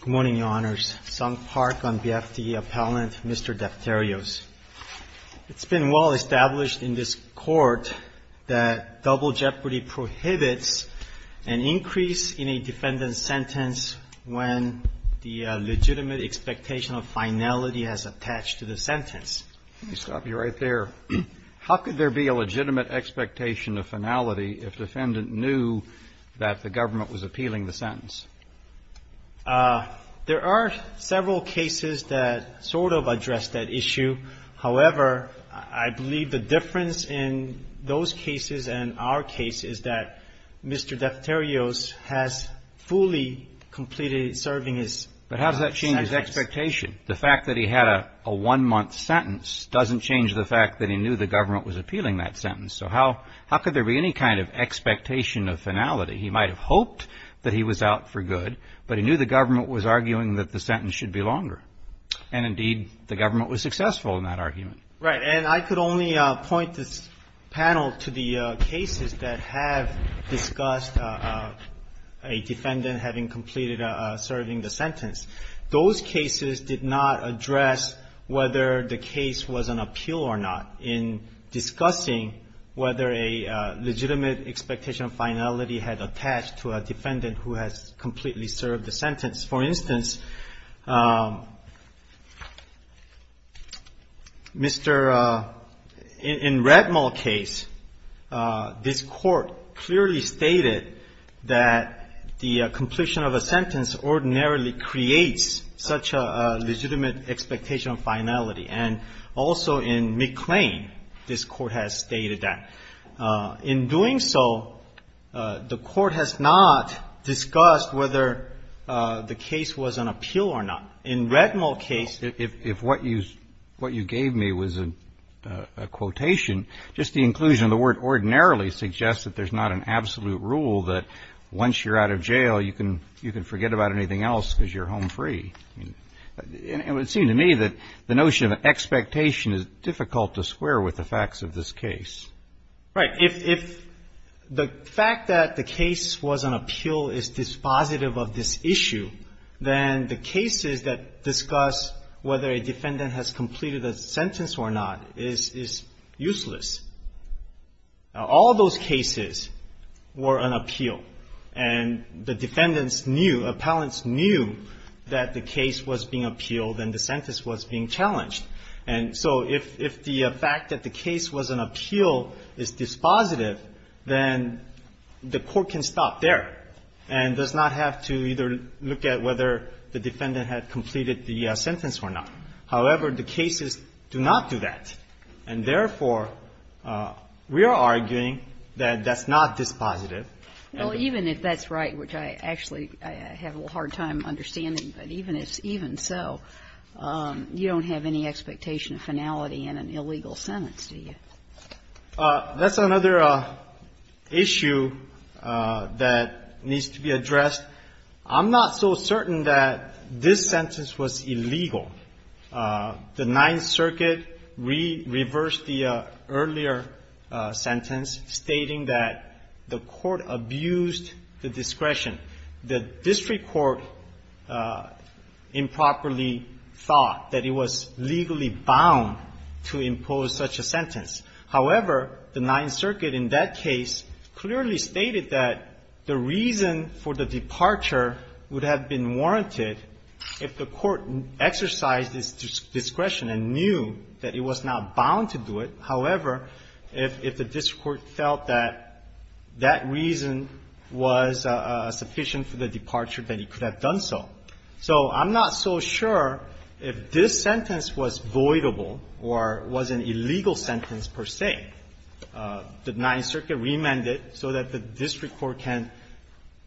Good morning, Your Honors. Sung Park on behalf of the appellant, Mr. Defterios. It's been well established in this Court that double jeopardy prohibits an increase in a defendant's sentence when the legitimate expectation of finality is attached to the sentence. CHIEF JUSTICE ROBERTS Let me stop you right there. How could there be a legitimate expectation of finality if defendant knew that the government was appealing the sentence? DEFTERIOS There are several cases that sort of address that issue. However, I believe the difference in those cases and our case is that Mr. Defterios has fully completed serving his sentence. The fact that he had a one-month sentence doesn't change the fact that he knew the government was appealing that sentence. So how could there be any kind of expectation of finality? He might have hoped that he was out for good, but he knew the government was arguing that the sentence should be longer. And indeed, the government was successful in that argument. CHIEF JUSTICE ROBERTS Right. And I could only point this panel to the cases that have discussed a defendant having completed serving the sentence. Those cases did not address whether the case was an appeal or not in discussing whether a legitimate expectation of finality had attached to a defendant who has completely served the sentence. For instance, Mr. — in Redmall's case, this Court clearly stated that the completion of a sentence ordinarily creates such a legitimate expectation of finality. And also in McClain, this Court has stated that. In doing so, the Court has not discussed whether the case was an appeal or not. In Redmall's case — CHIEF JUSTICE ROBERTS If what you gave me was a quotation, just the inclusion of the word ordinarily suggests that there's not an absolute rule that once you're out of jail, you can forget about anything else because you're home free. I mean, it would seem to me that the notion of expectation is difficult to square with the facts of this case. CHIEF JUSTICE ROBERTS Right. If the fact that the case was an appeal is dispositive of this issue, then the cases that discuss whether a defendant has completed a sentence or not is useless. Now, all those cases were an appeal, and the defendants knew, appellants knew that the case was being appealed and the sentence was being challenged. And so if the fact that the case was an appeal is dispositive, then the Court can stop there and does not have to either look at whether the defendant had completed the sentence or not. However, the cases do not do that. And, therefore, we are arguing that that's not dispositive. Ginsburg Well, even if that's right, which I actually have a hard time understanding, but even if so, you don't have any expectation of finality in an illegal sentence, do you? CHIEF JUSTICE ROBERTS That's another issue that needs to be addressed. I'm not so certain that this sentence was illegal. The Ninth Circuit reversed the earlier sentence, stating that the court abused the discretion. The district court improperly thought that it was legally bound to impose such a sentence. However, the Ninth Circuit in that case clearly stated that the reason for the departure would have been warranted if the court exercised its discretion and knew that it was not bound to do it. However, if the district court felt that that reason was sufficient for the departure, then it could have done so. So I'm not so sure if this sentence was voidable or was an illegal sentence per se. The Ninth Circuit remanded so that the district court can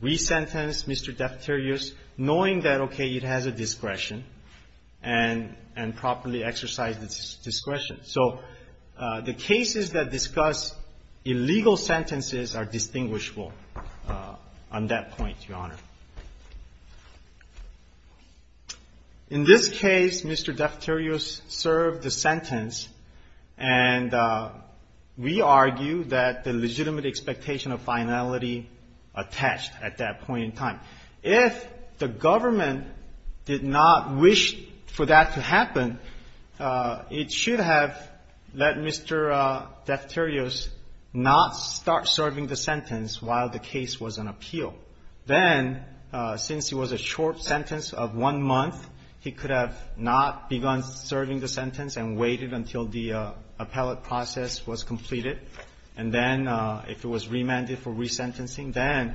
resentence Mr. Defterios knowing that, okay, it has a discretion and properly exercised its discretion. So the cases that discuss illegal sentences are distinguishable on that point, Your Honor. In this case, Mr. Defterios served the sentence, and we argue that the legitimate expectation of finality attached at that point in time. If the government did not wish for that to happen, it should have let Mr. Defterios not start serving the sentence while the case was on appeal. Then, since it was a short sentence of one month, he could have not begun serving the sentence and waited until the appellate process was completed. And then if it was remanded for resentencing, then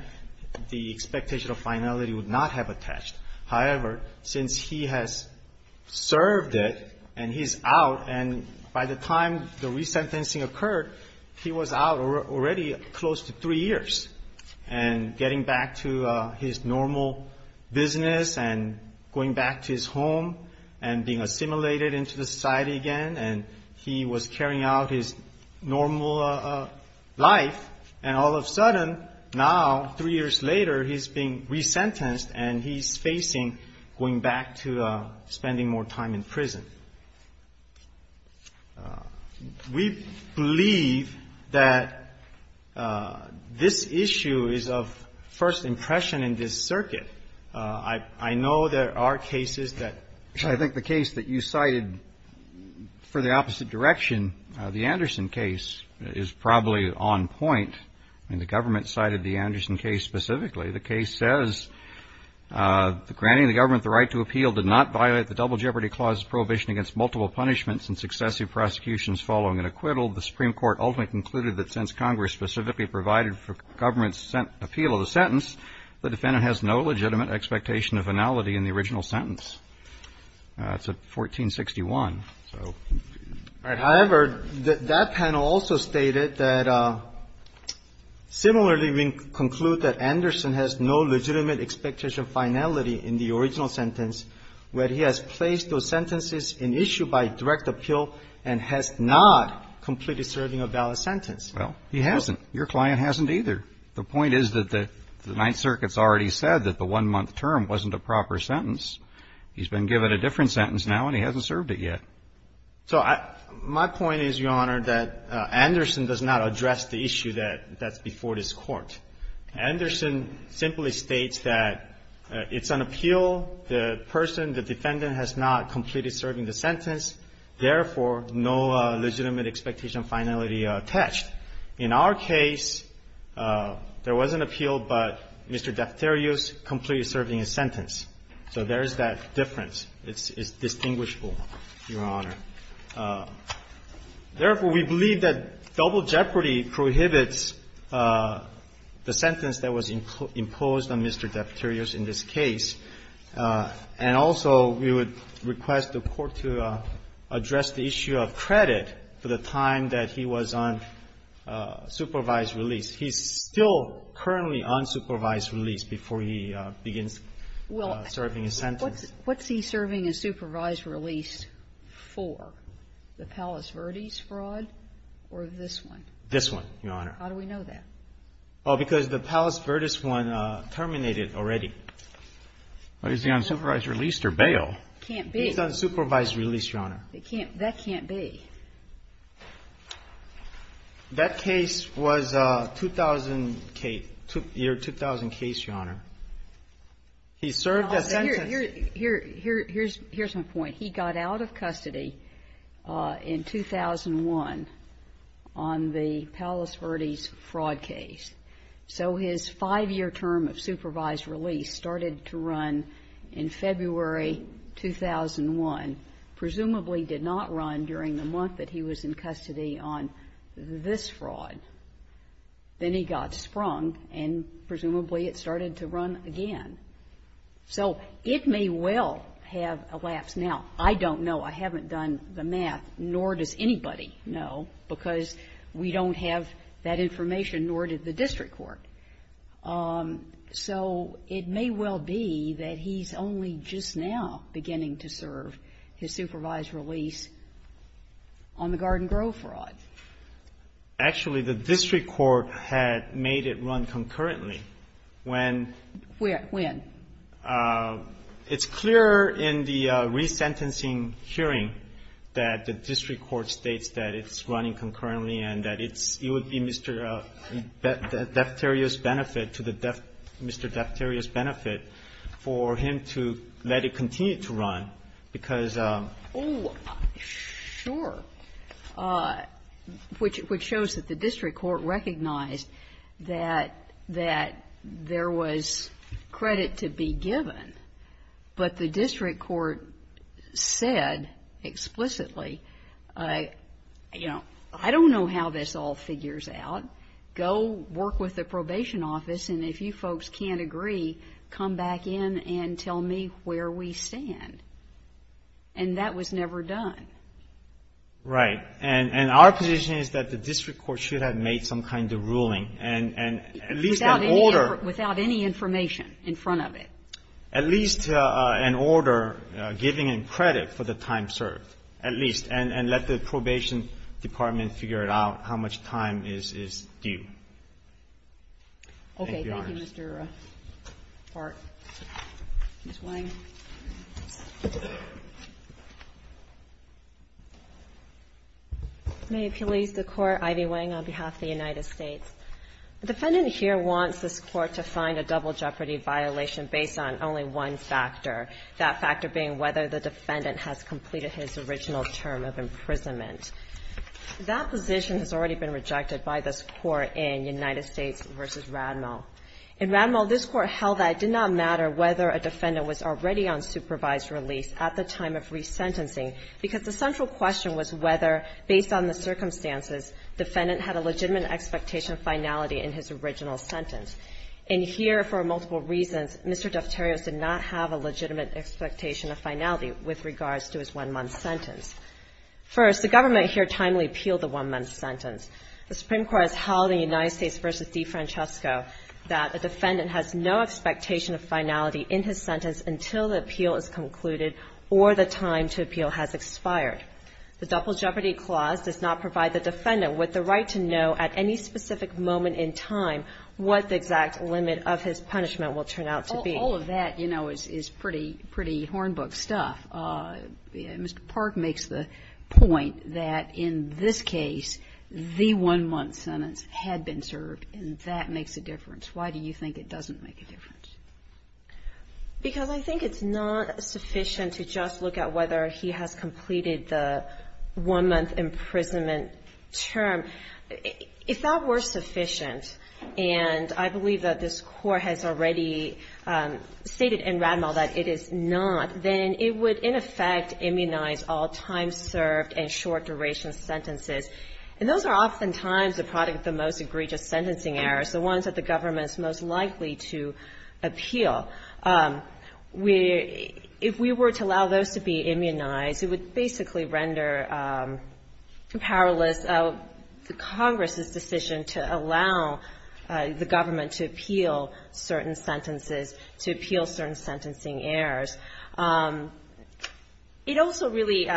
the expectation of finality would not have attached. However, since he has served it and he's out, and by the time the resentencing occurred, he was out already close to three years. And getting back to his normal business and going back to his home and being assimilated into the society again, and he was carrying out his normal life. And all of a sudden, now, three years later, he's being resentenced and he's facing going back to spending more time in prison. We believe that this issue is of first impression in this circuit. I know there are cases that you should be aware of. Roberts. I think the case that you cited for the opposite direction, the Anderson case, is probably on point. I mean, the government cited the Anderson case specifically. The case says, granting the government the right to appeal did not violate the Double Section against multiple punishments and successive prosecutions following an acquittal, the Supreme Court ultimately concluded that since Congress specifically provided for government's appeal of the sentence, the defendant has no legitimate expectation of finality in the original sentence. It's at 1461. However, that panel also stated that, similarly, we conclude that Anderson has no legitimate expectation of finality in the original sentence, where he has placed those sentences in issue by direct appeal and has not completed serving a valid sentence. Well, he hasn't. Your client hasn't either. The point is that the Ninth Circuit's already said that the one-month term wasn't a proper sentence. He's been given a different sentence now and he hasn't served it yet. So I my point is, Your Honor, that Anderson does not address the issue that's before this Court. Anderson simply states that it's an appeal. The person, the defendant, has not completed serving the sentence. Therefore, no legitimate expectation of finality attached. In our case, there was an appeal, but Mr. Defterios completed serving his sentence. So there is that difference. It's distinguishable, Your Honor. Therefore, we believe that double jeopardy prohibits the sentence that was imposed on Mr. Defterios in this case. And also, we would request the Court to address the issue of credit for the time that he was on supervised release. He's still currently on supervised release before he begins serving his sentence. What's he serving a supervised release for, the Palos Verdes fraud or this one? This one, Your Honor. How do we know that? Oh, because the Palos Verdes one terminated already. Well, he's on supervised release or bail. Can't be. He's on supervised release, Your Honor. It can't be. That can't be. That case was a 2000 case, Your Honor. He served a sentence. Here's my point. He got out of custody in 2001 on the Palos Verdes fraud case. So his five-year term of supervised release started to run in February 2001. Presumably did not run during the month that he was in custody on this fraud. Then he got sprung, and presumably it started to run again. So it may well have elapsed. Now, I don't know. I haven't done the math, nor does anybody know, because we don't have that information, nor did the district court. So it may well be that he's only just now beginning to serve his supervised release on the Garden Grove fraud. Actually, the district court had made it run concurrently. When? Where? When? It's clear in the resentencing hearing that the district court states that it's running concurrently and that it's you would be Mr. Defterios' benefit to the Mr. Defterios' benefit for him to let it continue to run, because of the law. But the district court said explicitly, you know, I don't know how this all figures out. Go work with the probation office, and if you folks can't agree, come back in and tell me where we stand. And that was never done. Right. And our position is that the district court should have made some kind of ruling, and at least an order. Without any information in front of it. At least an order giving him credit for the time served, at least, and let the probation department figure it out how much time is due. Okay. Thank you, Mr. Park. Ms. Wang. May it please the Court, Ivy Wang, on behalf of the United States. The defendant here wants this Court to find a double jeopardy violation based on only one factor. That factor being whether the defendant has completed his original term of imprisonment. That position has already been rejected by this Court in United States v. Radmel. In Radmel, this Court held that it did not matter whether a defendant was already on supervised release at the time of resentencing, because the central question was whether, based on the circumstances, defendant had a legitimate expectation of finality in his original sentence. And here, for multiple reasons, Mr. Defterios did not have a legitimate expectation of finality with regards to his one-month sentence. First, the government here timely appealed the one-month sentence. The Supreme Court has held in United States v. DeFrancesco, that a defendant has no expectation of finality in his sentence until the appeal is concluded, or the time to appeal has expired. The double jeopardy clause does not provide the defendant with the right to know at any specific moment in time what the exact limit of his punishment will turn out to be. All of that, you know, is pretty, pretty hornbook stuff. Mr. Park makes the point that in this case, the one-month sentence had been served, and that makes a difference. Why do you think it doesn't make a difference? Because I think it's not sufficient to just look at whether he has completed the one-month imprisonment term. If that were sufficient, and I believe that this Court has already stated in Rademach that it is not, then it would, in effect, immunize all time served and short-duration sentences. And those are oftentimes the product of the most egregious sentencing errors, the ones that the government is most likely to appeal. If we were to allow those to be immunized, it would basically render powerless Congress's decision to allow the government to appeal certain sentences, to appeal certain sentencing errors. It also really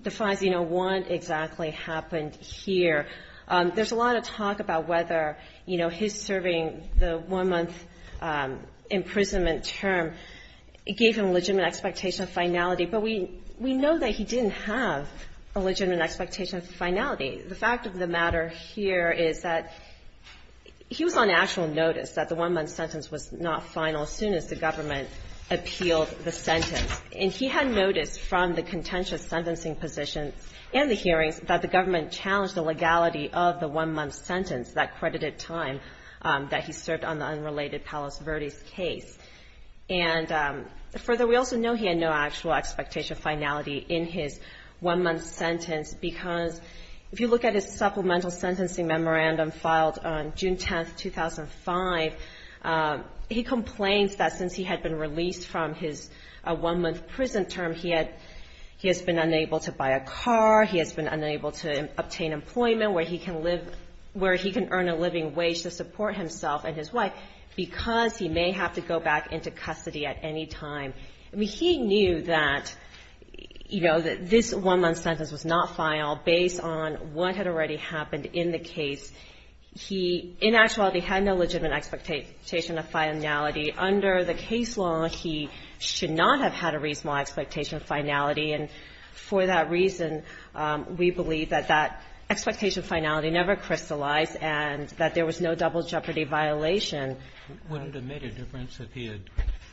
defines, you know, what exactly happened here. There's a lot of talk about whether, you know, his serving the one-month imprisonment term gave him a legitimate expectation of finality, but we know that he didn't have a legitimate expectation of finality. The fact of the matter here is that he was on actual notice that the one-month sentence was not final as soon as the government appealed the sentence. And he had noticed from the contentious sentencing position and the hearings that the government challenged the legality of the one-month sentence, that credited time that he served on the unrelated Palos Verdes case. And further, we also know he had no actual expectation of finality in his one-month sentence because if you look at his supplemental sentencing memorandum filed on June 10th, 2005, he complains that since he had been released from his one-month prison term, he had been unable to buy a car, he has been unable to obtain employment where he can earn a living wage to support himself and his wife, because he may have to go back into custody at any time. I mean, he knew that, you know, that this one-month sentence was not final based on what had already happened in the case. He in actuality had no legitimate expectation of finality. Under the case law, he should not have had a reasonable expectation of finality. And for that reason, we believe that that expectation of finality never crystallized and that there was no double jeopardy violation. Would it have made a difference if he had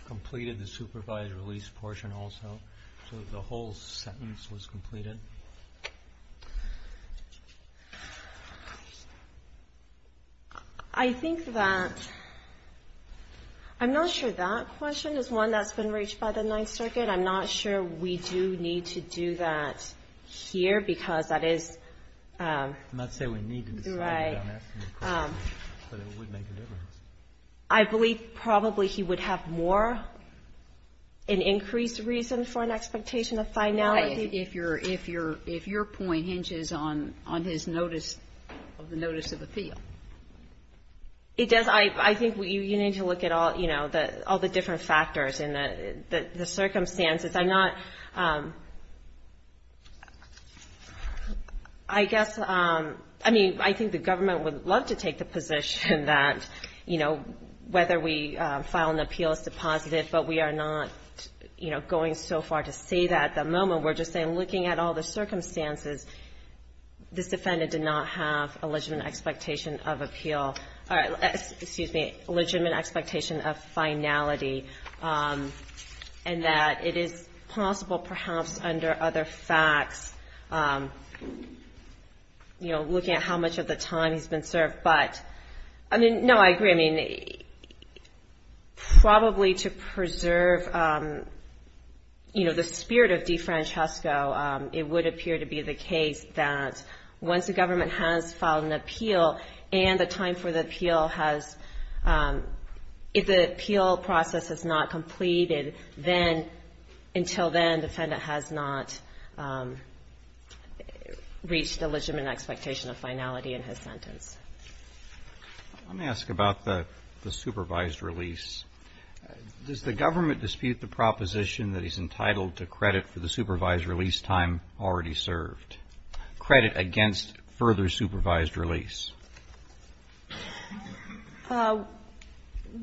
completed the supervised release portion also, so that the whole sentence was completed? I think that, I'm not sure that question is one that's been reached by the Ninth Circuit. I'm not sure we do need to do that here because that is. I'm not saying we need to decide that. Right. But it would make a difference. I believe probably he would have more, an increased reason for an expectation of finality. If your point hinges on his notice of the notice of appeal. It does, I think you need to look at all, you know, all the different factors and the circumstances. I'm not, I guess, I mean, I think the government would love to take the position that, you know, whether we file an appeal is positive, but we are not, you know, going so far to say that at the moment. We're just saying, looking at all the circumstances, this defendant did not have a legitimate expectation of appeal. All right, excuse me, legitimate expectation of finality. And that it is possible perhaps under other facts, you know, looking at how much of the time he's been served. But, I mean, no, I agree. I mean, probably to preserve, you know, the spirit of DeFrancesco, it would appear to be the case that once the government has filed an appeal, and the time for the appeal has, if the appeal process has not completed, then, until then, the defendant has not reached a legitimate expectation of finality in his sentence. Let me ask about the supervised release. Does the government dispute the proposition that he's entitled to credit for the supervised release time already served? Credit against further supervised release?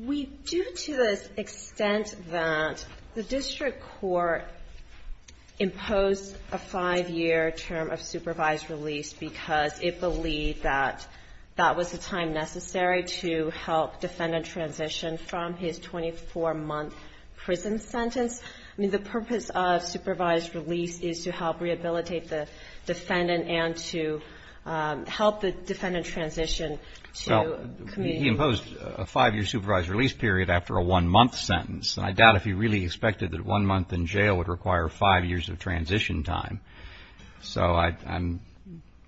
We do to the extent that the district court imposed a five-year term of supervised release because it believed that that was the time necessary to help defendant transition from his 24-month prison sentence. I mean, the purpose of supervised release is to help rehabilitate the defendant and to help the defendant transition to community. Well, he imposed a five-year supervised release period after a one-month sentence, and I doubt if he really expected that one month in jail would require five years of transition time. So I'm,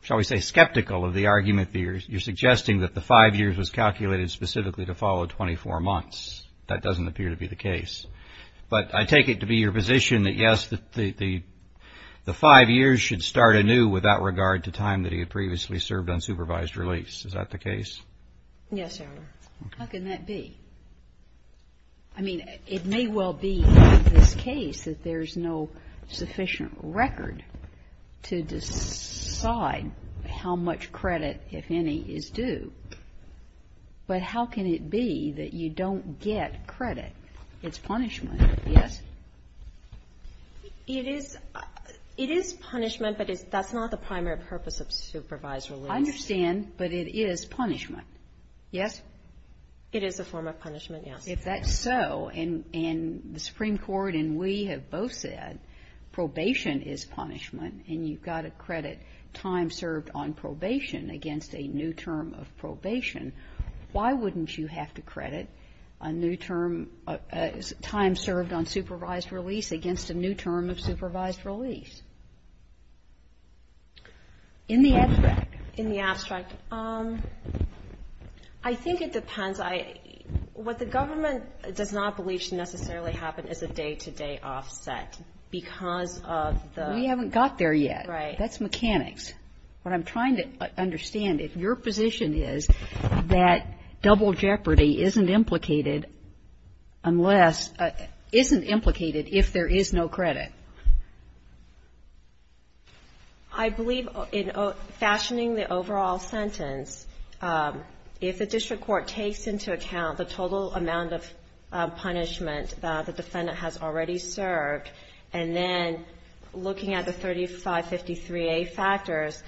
shall we say, skeptical of the argument that you're suggesting that the five years was calculated specifically to follow 24 months. That doesn't appear to be the case. But I take it to be your position that, yes, the five years should start anew without regard to time that he had previously served on supervised release. Is that the case? Yes, Your Honor. How can that be? I mean, it may well be in this case that there's no sufficient record to decide how much credit, if any, is due. But how can it be that you don't get credit? It's punishment, yes? It is punishment, but that's not the primary purpose of supervised release. I understand, but it is punishment, yes? It is a form of punishment, yes. If that's so, and the Supreme Court and we have both said probation is punishment, and you've got to credit time served on probation against a new term of probation, why wouldn't you have to credit a new term, time served on supervised release against a new term of supervised release? In the abstract. In the abstract. I think it depends. What the government does not believe should necessarily happen is a day-to-day offset because of the... We haven't got there yet. That's mechanics. What I'm trying to understand, if your position is that double jeopardy isn't implicated unless... isn't implicated if there is no credit. I believe in fashioning the overall sentence, if the district court takes into account the total amount of punishment the defendant has already served, and then looking at the 3553A factors,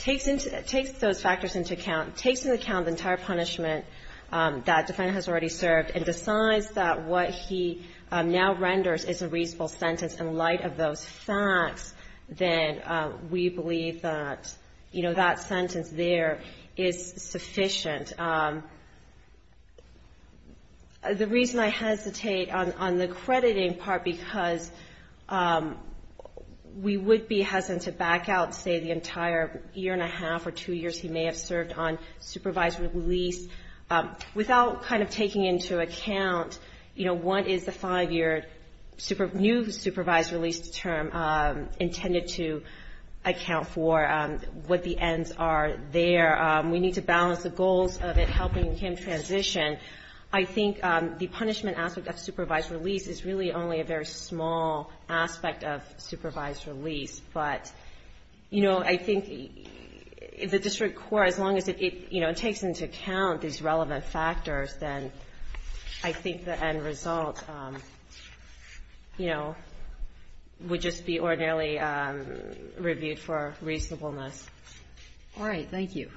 takes those factors into account, takes into account the entire punishment that defendant has already served, and decides that what he now renders is a reasonable sentence in light of those facts, then we believe that that sentence there is sufficient. And the reason I hesitate on the crediting part, because we would be hesitant to back out, say, the entire year and a half or two years he may have served on supervised release, without kind of taking into account, you know, what is the five-year new supervised release term intended to account for, what the ends are there. We need to balance the goals of it, helping him transition. I think the punishment aspect of supervised release is really only a very small aspect of supervised release, but, you know, I think the district court, as long as it takes into account these relevant factors, then I think the end result would just be ordinarily reviewed for reasonableness. All right. Thank you. Thank you.